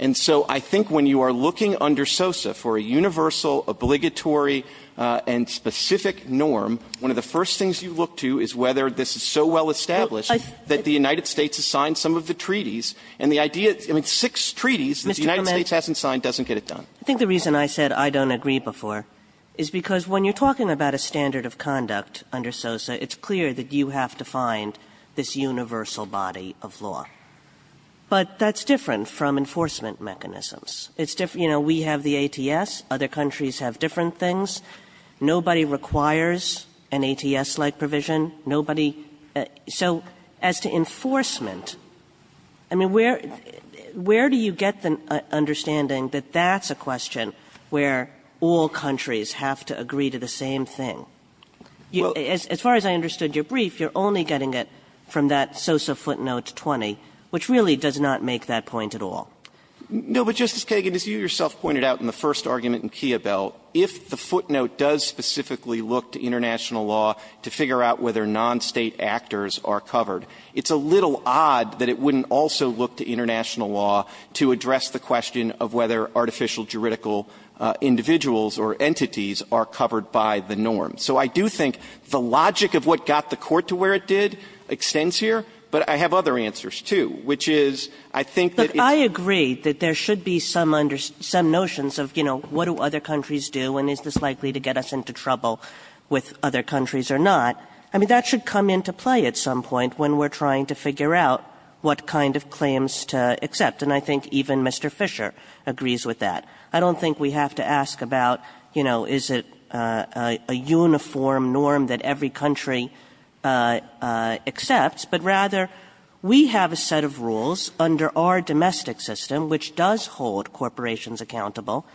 And so I think when you are looking under SOSA for a universal, obligatory, and specific norm, one of the first things you look to is whether this is so well established that the United States has signed some of the treaties, and the idea – I mean, six treaties that the United States hasn't signed doesn't get it done. I think the reason I said I don't agree before is because when you're talking about a standard of conduct under SOSA, it's clear that you have to find this universal body of law. But that's different from enforcement mechanisms. It's different – you know, we have the ATS. Other countries have different things. Nobody requires an ATS-like provision. Nobody – so as to enforcement, I mean, where do you get the understanding that that's a question where all countries have to agree to the same thing? As far as I understood your brief, you're only getting it from that SOSA footnote 20, which really does not make that point at all. No, but, Justice Kagan, as you yourself pointed out in the first argument in Kiyobel, if the footnote does specifically look to international law to figure out whether non-State actors are covered, it's a little odd that it wouldn't also look to international law to address the question of whether artificial juridical individuals or entities are covered by the norm. So I do think the logic of what got the Court to where it did extends here, but I have other answers, too, which is I think that it's – I agree that there should be some notions of, you know, what do other countries do and is this likely to get us into trouble with other countries or not. I mean, that should come into play at some point when we're trying to figure out what kind of claims to accept, and I think even Mr. Fisher agrees with that. I don't think we have to ask about, you know, is it a uniform norm that every country accepts, but rather we have a set of rules under our domestic system which does hold corporations accountable,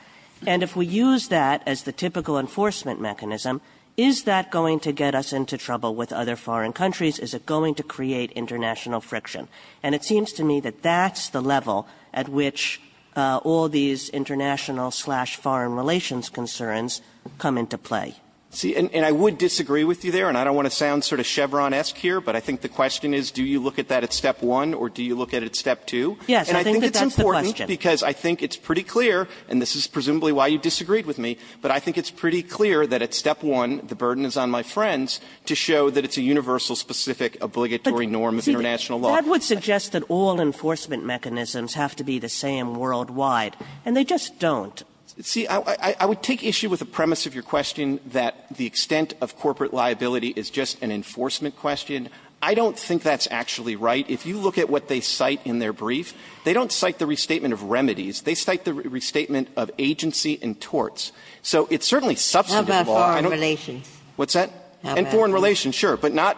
and if we use that as the typical enforcement mechanism, is that going to get us into trouble with other foreign countries? Is it going to create international friction? And it seems to me that that's the level at which all these international slash foreign relations concerns come into play. See, and I would disagree with you there, and I don't want to sound sort of Chevron-esque here, but I think the question is do you look at that at step one or do you look at it at step two? And I think it's important because I think it's pretty clear, and this is presumably why you disagreed with me, but I think it's pretty clear that at step one the burden is on my friends to show that it's a universal specific obligatory norm of international law. But, see, that would suggest that all enforcement mechanisms have to be the same worldwide, and they just don't. See, I would take issue with the premise of your question that the extent of corporate liability is just an enforcement question. I don't think that's actually right. If you look at what they cite in their brief, they don't cite the restatement of remedies. They cite the restatement of agency and torts. So it's certainly substantive law. Ginsburg. How about foreign relations? What's that? And foreign relations, sure, but not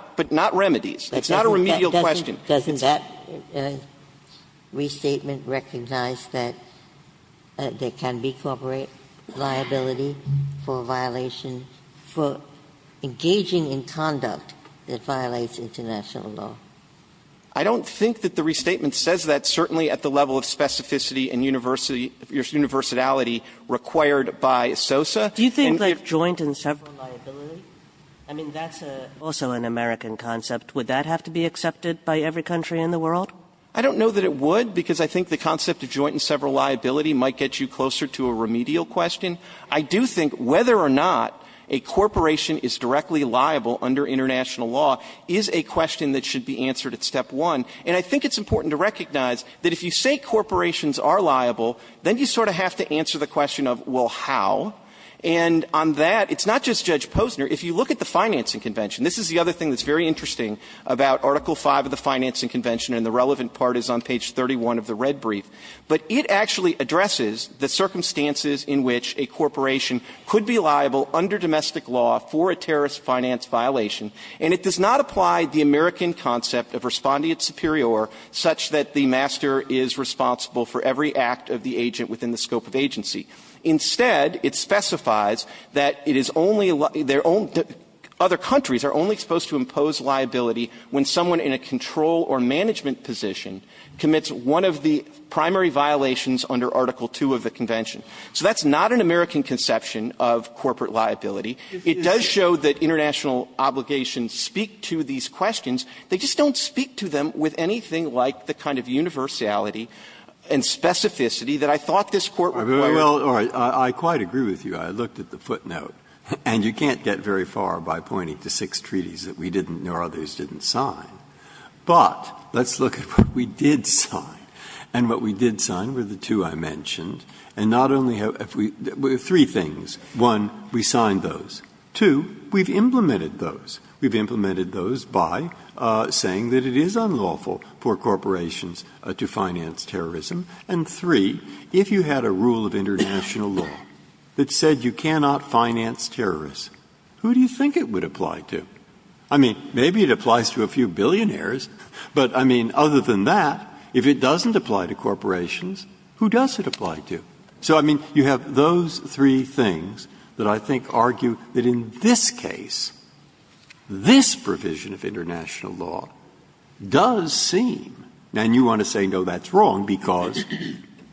remedies. It's not a remedial question. Doesn't that restatement recognize that there can be corporate liability for a violation for engaging in conduct that violates international law? I don't think that the restatement says that, certainly at the level of specificity and university or universality required by SOSA. Do you think that joint and several liability? I mean, that's also an American concept. Would that have to be accepted by every country in the world? I don't know that it would, because I think the concept of joint and several liability might get you closer to a remedial question. I do think whether or not a corporation is directly liable under international law is a question that should be answered at step one. And I think it's important to recognize that if you say corporations are liable, then you sort of have to answer the question of, well, how? And on that, it's not just Judge Posner. If you look at the financing convention, this is the other thing that's very interesting. About Article V of the financing convention, and the relevant part is on page 31 of the red brief, but it actually addresses the circumstances in which a corporation could be liable under domestic law for a terrorist finance violation, and it does not apply the American concept of respondeat superior such that the master is responsible for every act of the agent within the scope of agency. Instead, it specifies that it is only their own other countries are only supposed to impose liability when someone in a control or management position commits one of the primary violations under Article II of the convention. So that's not an American conception of corporate liability. It does show that international obligations speak to these questions. They just don't speak to them with anything like the kind of universality and specificity that I thought this Court would require. Breyer, I quite agree with you. I looked at the footnote, and you can't get very far by pointing to six treaties that we didn't or others didn't sign. But let's look at what we did sign, and what we did sign were the two I mentioned. And not only have we – three things. One, we signed those. Two, we've implemented those. We've implemented those by saying that it is unlawful for corporations to finance terrorism. And three, if you had a rule of international law that said you cannot finance terrorists, who do you think it would apply to? I mean, maybe it applies to a few billionaires, but, I mean, other than that, if it doesn't apply to corporations, who does it apply to? So, I mean, you have those three things that I think argue that in this case, this provision of international law does seem – and you want to say, no, that's wrong. Because?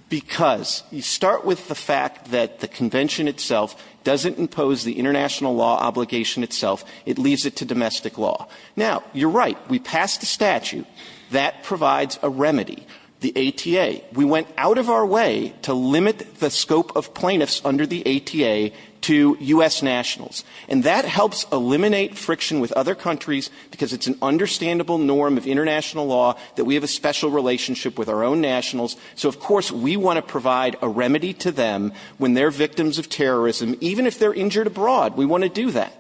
Because you start with the fact that the convention itself doesn't impose the international law obligation itself. It leaves it to domestic law. Now, you're right. We passed a statute that provides a remedy, the ATA. We went out of our way to limit the scope of plaintiffs under the ATA to U.S. nationals. And that helps eliminate friction with other countries, because it's an understandable norm of international law that we have a special relationship with our own nationals. So, of course, we want to provide a remedy to them when they're victims of terrorism, even if they're injured abroad. We want to do that.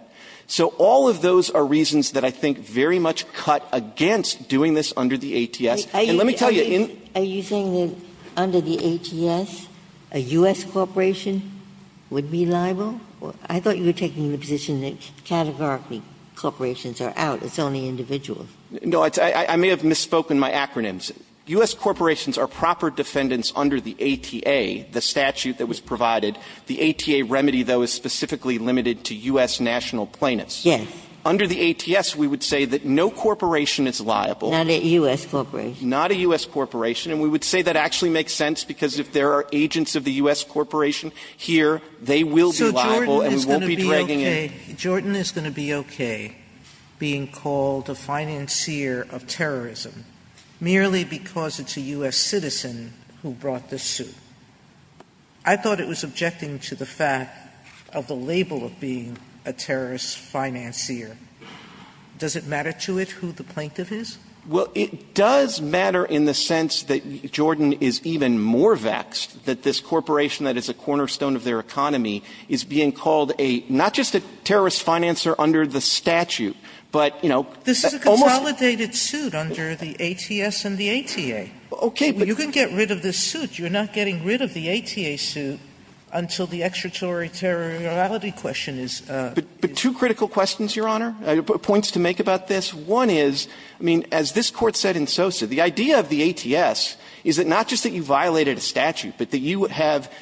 So all of those are reasons that I think very much cut against doing this under the ATS. And let me tell you – Are you saying that under the ATS, a U.S. corporation would be liable? I thought you were taking the position that categorically corporations are out, it's only individuals. No, I may have misspoken my acronyms. U.S. corporations are proper defendants under the ATA, the statute that was provided. The ATA remedy, though, is specifically limited to U.S. national plaintiffs. Yes. Under the ATS, we would say that no corporation is liable. Not a U.S. corporation. Not a U.S. corporation. And we would say that actually makes sense, because if there are agents of the U.S. corporation here, they will be liable and we won't be dragging in – Jordan is going to be okay being called a financier of terrorism merely because it's a U.S. citizen who brought this suit. I thought it was objecting to the fact of the label of being a terrorist financier. Does it matter to it who the plaintiff is? Well, it does matter in the sense that Jordan is even more vexed that this corporation that is a cornerstone of their economy is being called a – not just a terrorist financer under the statute, but, you know, almost – This is a consolidated suit under the ATS and the ATA. Okay, but – You can get rid of this suit. You're not getting rid of the ATA suit until the extraterritoriality question is – But two critical questions, Your Honor, points to make about this. One is, I mean, as this Court said in Sosa, the idea of the ATS is that not just that you violated a statute, but that you have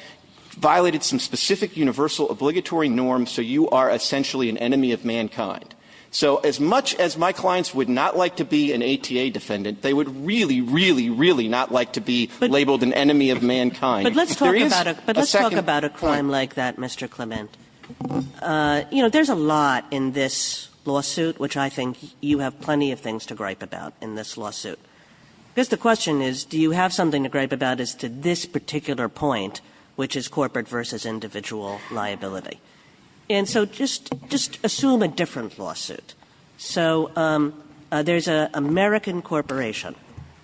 violated some specific universal obligatory norm, so you are essentially an enemy of mankind. So as much as my clients would not like to be an ATA defendant, they would really, really, really not like to be labeled an enemy of mankind. There is a second – But let's talk about a claim like that, Mr. Clement. You know, there's a lot in this lawsuit, which I think you have plenty of things to gripe about in this lawsuit. I guess the question is, do you have something to gripe about as to this particular point, which is corporate versus individual liability? And so just – just assume a different lawsuit. So there's an American corporation.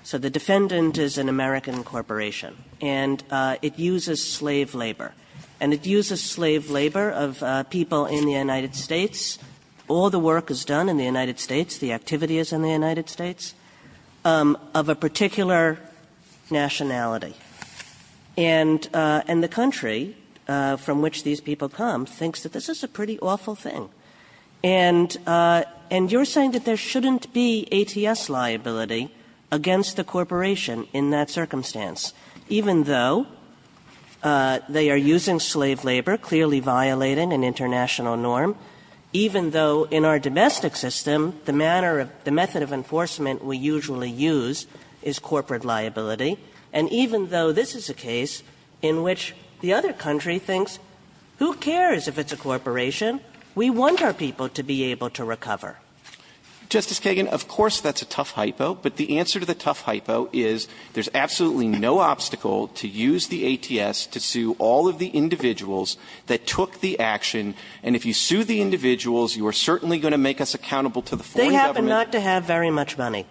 So the defendant is an American corporation, and it uses slave labor. And it uses slave labor of people in the United States. All the work is done in the United States. The activity is in the United States. Of a particular nationality. And – and the country from which these people come thinks that this is a pretty awful thing. And – and you're saying that there shouldn't be ATS liability against the corporation in that circumstance, even though they are using slave labor, clearly violating an international norm, even though in our domestic system, the manner of – the method of enforcement we usually use is corporate liability, and even though this is a case in which the other country thinks, who cares if it's a corporation? We want our people to be able to recover. Justice Kagan, of course that's a tough hypo. But the answer to the tough hypo is there's absolutely no obstacle to use the ATS to sue all of the individuals that took the action. And if you sue the individuals, you are certainly going to make us accountable to the foreign government. But not to have very much money.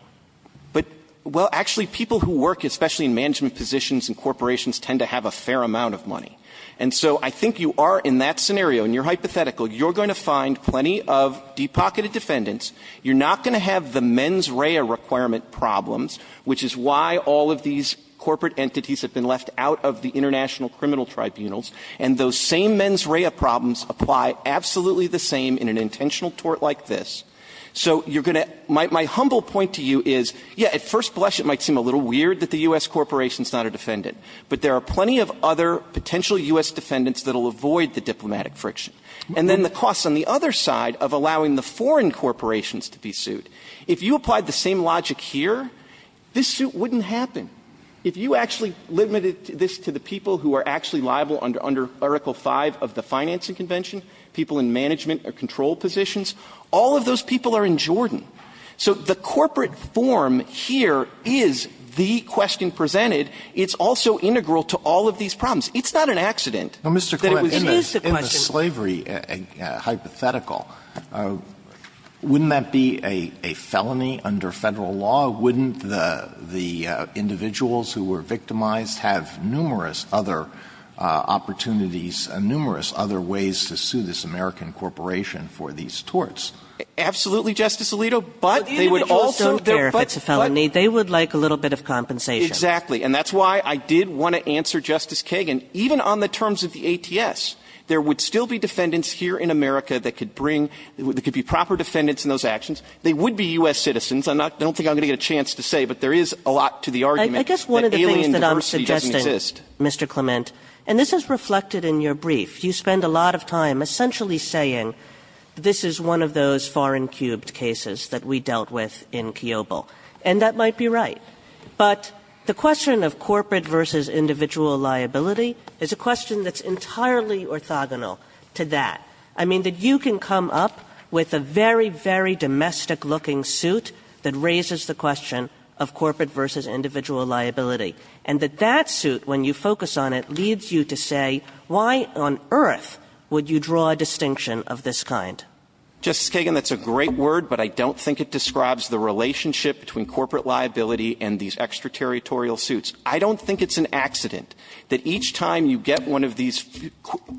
But – well, actually, people who work especially in management positions in corporations tend to have a fair amount of money. And so I think you are, in that scenario, and you're hypothetical, you're going to find plenty of deep-pocketed defendants. You're not going to have the mens rea requirement problems, which is why all of these corporate entities have been left out of the international criminal tribunals. And those same mens rea problems apply absolutely the same in an intentional tort like this. So you're going to – my humble point to you is, yeah, at first blush it might seem a little weird that the U.S. corporation is not a defendant. But there are plenty of other potential U.S. defendants that will avoid the diplomatic friction. And then the cost on the other side of allowing the foreign corporations to be sued, if you applied the same logic here, this suit wouldn't happen. If you actually limited this to the people who are actually liable under Article 5 of the Financing Convention, people in management or control positions, all of those people are in Jordan. So the corporate form here is the question presented. It's also integral to all of these problems. It's not an accident that it was used to question the court. Alito, in the slavery hypothetical, wouldn't that be a felony under Federal law? Wouldn't the individuals who were victimized have numerous other opportunities, numerous other ways to sue this American corporation for these torts? Absolutely, Justice Alito. But they would also do it. But the individuals don't care if it's a felony. They would like a little bit of compensation. Exactly. And that's why I did want to answer Justice Kagan. Even on the terms of the ATS, there would still be defendants here in America that could bring – that could be proper defendants in those actions. They would be U.S. citizens. I'm not – I don't think I'm going to get a chance to say, but there is a lot to the argument. I guess one of the things that I'm suggesting, Mr. Clement, and this is reflected in your brief. You spend a lot of time essentially saying this is one of those far-and-cubed cases that we dealt with in Kiobel. And that might be right. But the question of corporate versus individual liability is a question that's entirely orthogonal to that. I mean, that you can come up with a very, very domestic-looking suit that raises the question of corporate versus individual liability. And that that suit, when you focus on it, leads you to say, why on earth would you draw a distinction of this kind? Justice Kagan, that's a great word, but I don't think it describes the relationship between corporate liability and these extraterritorial suits. I don't think it's an accident that each time you get one of these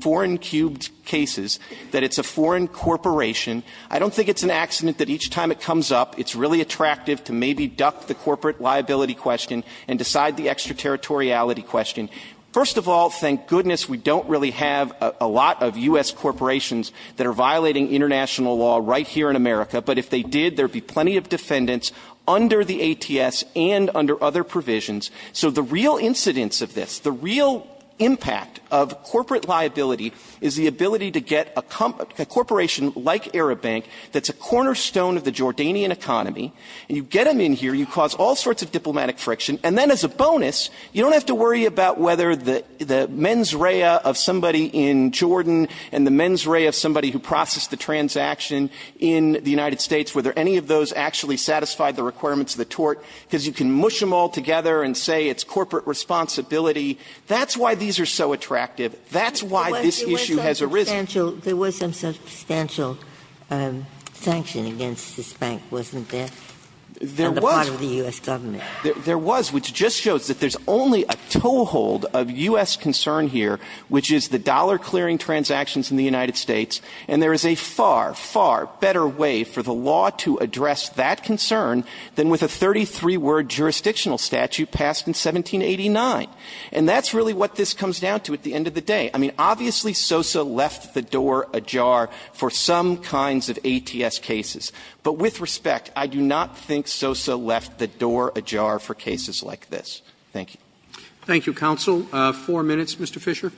foreign-cubed cases, that it's a foreign corporation. I don't think it's an accident that each time it comes up, it's really attractive to maybe duck the corporate liability question and decide the extraterritoriality question. First of all, thank goodness we don't really have a lot of U.S. corporations that are violating international law right here in America. But if they did, there'd be plenty of defendants under the ATS and under other provisions. So the real incidence of this, the real impact of corporate liability, is the ability to get a corporation like Arab Bank that's a cornerstone of the Jordanian economy, and you get them in here, you cause all sorts of diplomatic friction. And then as a bonus, you don't have to worry about whether the mens rea of somebody in Jordan and the mens rea of somebody who processed the transaction in the United States, whether any of those actually satisfied the requirements of the tort, because you can mush them all together and say it's corporate responsibility. That's why these are so attractive. That's why this issue has arisen. Ginsburg. There was some substantial sanction against this bank, wasn't there? There was. On the part of the U.S. Government. There was, which just shows that there's only a toehold of U.S. concern here, which is the dollar clearing transactions in the United States, and there is a far, far better way for the law to address that concern than with a 33-word jurisdictional statute passed in 1789. And that's really what this comes down to at the end of the day. I mean, obviously SOSA left the door ajar for some kinds of ATS cases, but with respect, I do not think SOSA left the door ajar for cases like this. Thank you. Thank you, counsel. Four minutes, Mr. Fisher.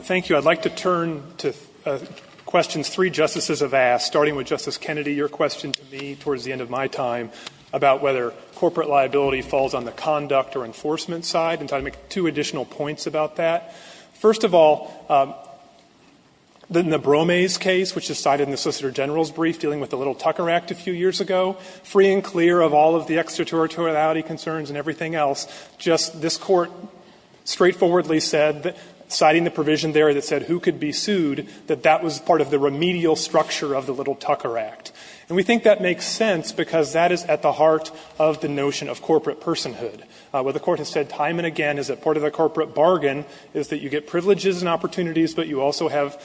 Thank you. I'd like to turn to questions three Justices have asked, starting with Justice Kennedy. Your question to me towards the end of my time about whether corporate liability falls on the conduct or enforcement side, and I'd like to make two additional points about that. First of all, in the Bromais case, which is cited in the Solicitor General's brief dealing with the Little Tucker Act a few years ago, free and clear of all of the extraterritoriality concerns and everything else, just this Court straightforwardly said, citing the provision there that said who could be sued, that that was part of the remedial structure of the Little Tucker Act. And we think that makes sense because that is at the heart of the notion of corporate personhood. What the Court has said time and again is that part of the corporate bargain is that you get privileges and opportunities, but you also have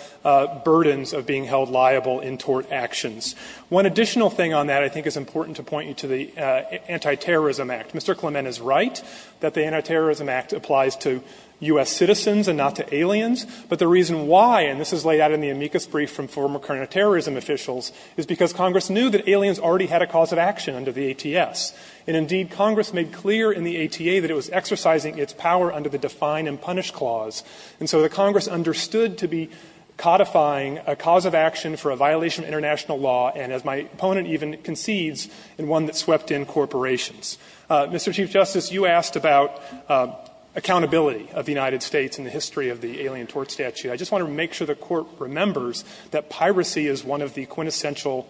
burdens of being held liable in tort actions. One additional thing on that I think is important to point you to the Antiterrorism Act. Mr. Clement is right that the Antiterrorism Act applies to U.S. citizens and not to aliens, but the reason why, and this is laid out in the amicus brief from former counterterrorism officials, is because Congress knew that aliens already had a cause of action under the ATS. And indeed, Congress made clear in the ATA that it was exercising its power under the Define and Punish Clause. And so the Congress understood to be codifying a cause of action for a violation of international law, and as my opponent even concedes, in one that swept in corporations. Mr. Chief Justice, you asked about accountability of the United States and the history of the alien tort statute. I just want to make sure the Court remembers that piracy is one of the quintessential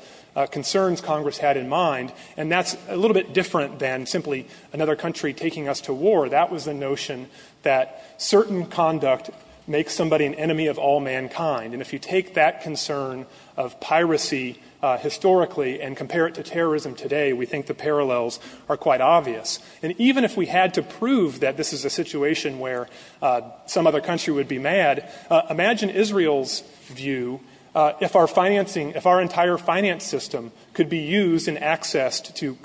concerns Congress had in mind. And that's a little bit different than simply another country taking us to war. That was the notion that certain conduct makes somebody an enemy of all mankind. And if you take that concern of piracy historically and compare it to terrorism today, we think the parallels are quite obvious. And even if we had to prove that this is a situation where some other country would be mad, imagine Israel's view if our financing, if our entire finance system could be used and accessed to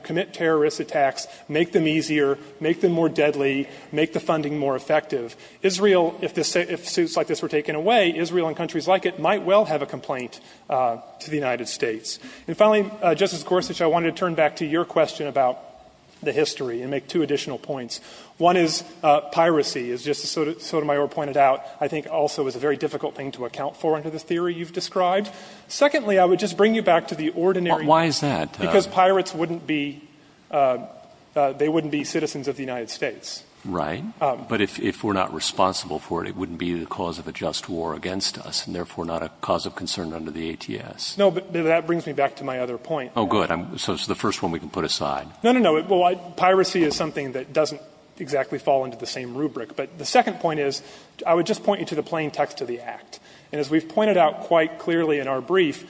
commit terrorist attacks, make them easier, make them more deadly, make the funding more effective. Israel, if suits like this were taken away, Israel and countries like it might well have a complaint to the United States. And finally, Justice Gorsuch, I wanted to turn back to your question about the history and make two additional points. One is piracy, as Justice Sotomayor pointed out, I think also is a very difficult thing to account for under the theory you've described. Secondly, I would just bring you back to the ordinary. Why is that? Because pirates wouldn't be, they wouldn't be citizens of the United States. Right. But if we're not responsible for it, it wouldn't be the cause of a just war against us and therefore not a cause of concern under the ATS. No, but that brings me back to my other point. Oh, good. So it's the first one we can put aside. No, no, no. Piracy is something that doesn't exactly fall into the same rubric. But the second point is, I would just point you to the plain text of the act. And as we've pointed out quite clearly in our brief,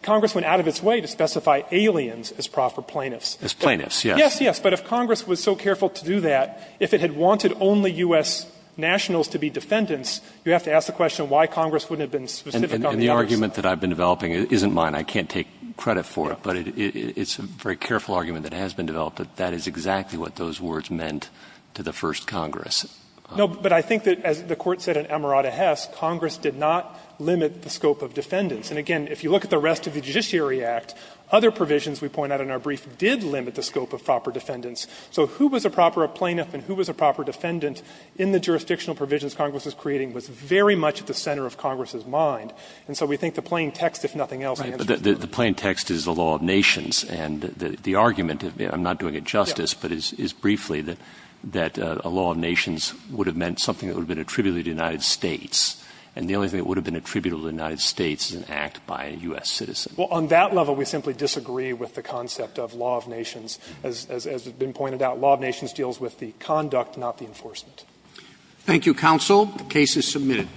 Congress went out of its way to specify aliens as proper plaintiffs. As plaintiffs, yes. Yes, yes. But if Congress was so careful to do that, if it had wanted only U.S. nationals to be defendants, you have to ask the question why Congress wouldn't have been specific on the others. And the argument that I've been developing isn't mine. I can't take credit for it. But it's a very careful argument that has been developed that that is exactly what those words meant to the first Congress. No, but I think that, as the Court said in Amarada Hess, Congress did not limit the scope of defendants. And again, if you look at the rest of the Judiciary Act, other provisions we point out in our brief did limit the scope of proper defendants. So who was a proper plaintiff and who was a proper defendant in the jurisdictional provisions Congress was creating was very much at the center of Congress's mind. And so we think the plain text, if nothing else, answers the question. Right. But the plain text is the law of nations, and the argument, I'm not doing it justice, but it's briefly that a law of nations would have meant something that would have been attributable to the United States, and the only thing that would have been attributable to the United States is an act by a U.S. citizen. Well, on that level, we simply disagree with the concept of law of nations. As has been pointed out, law of nations deals with the conduct, not the enforcement. Thank you, counsel. The case is submitted.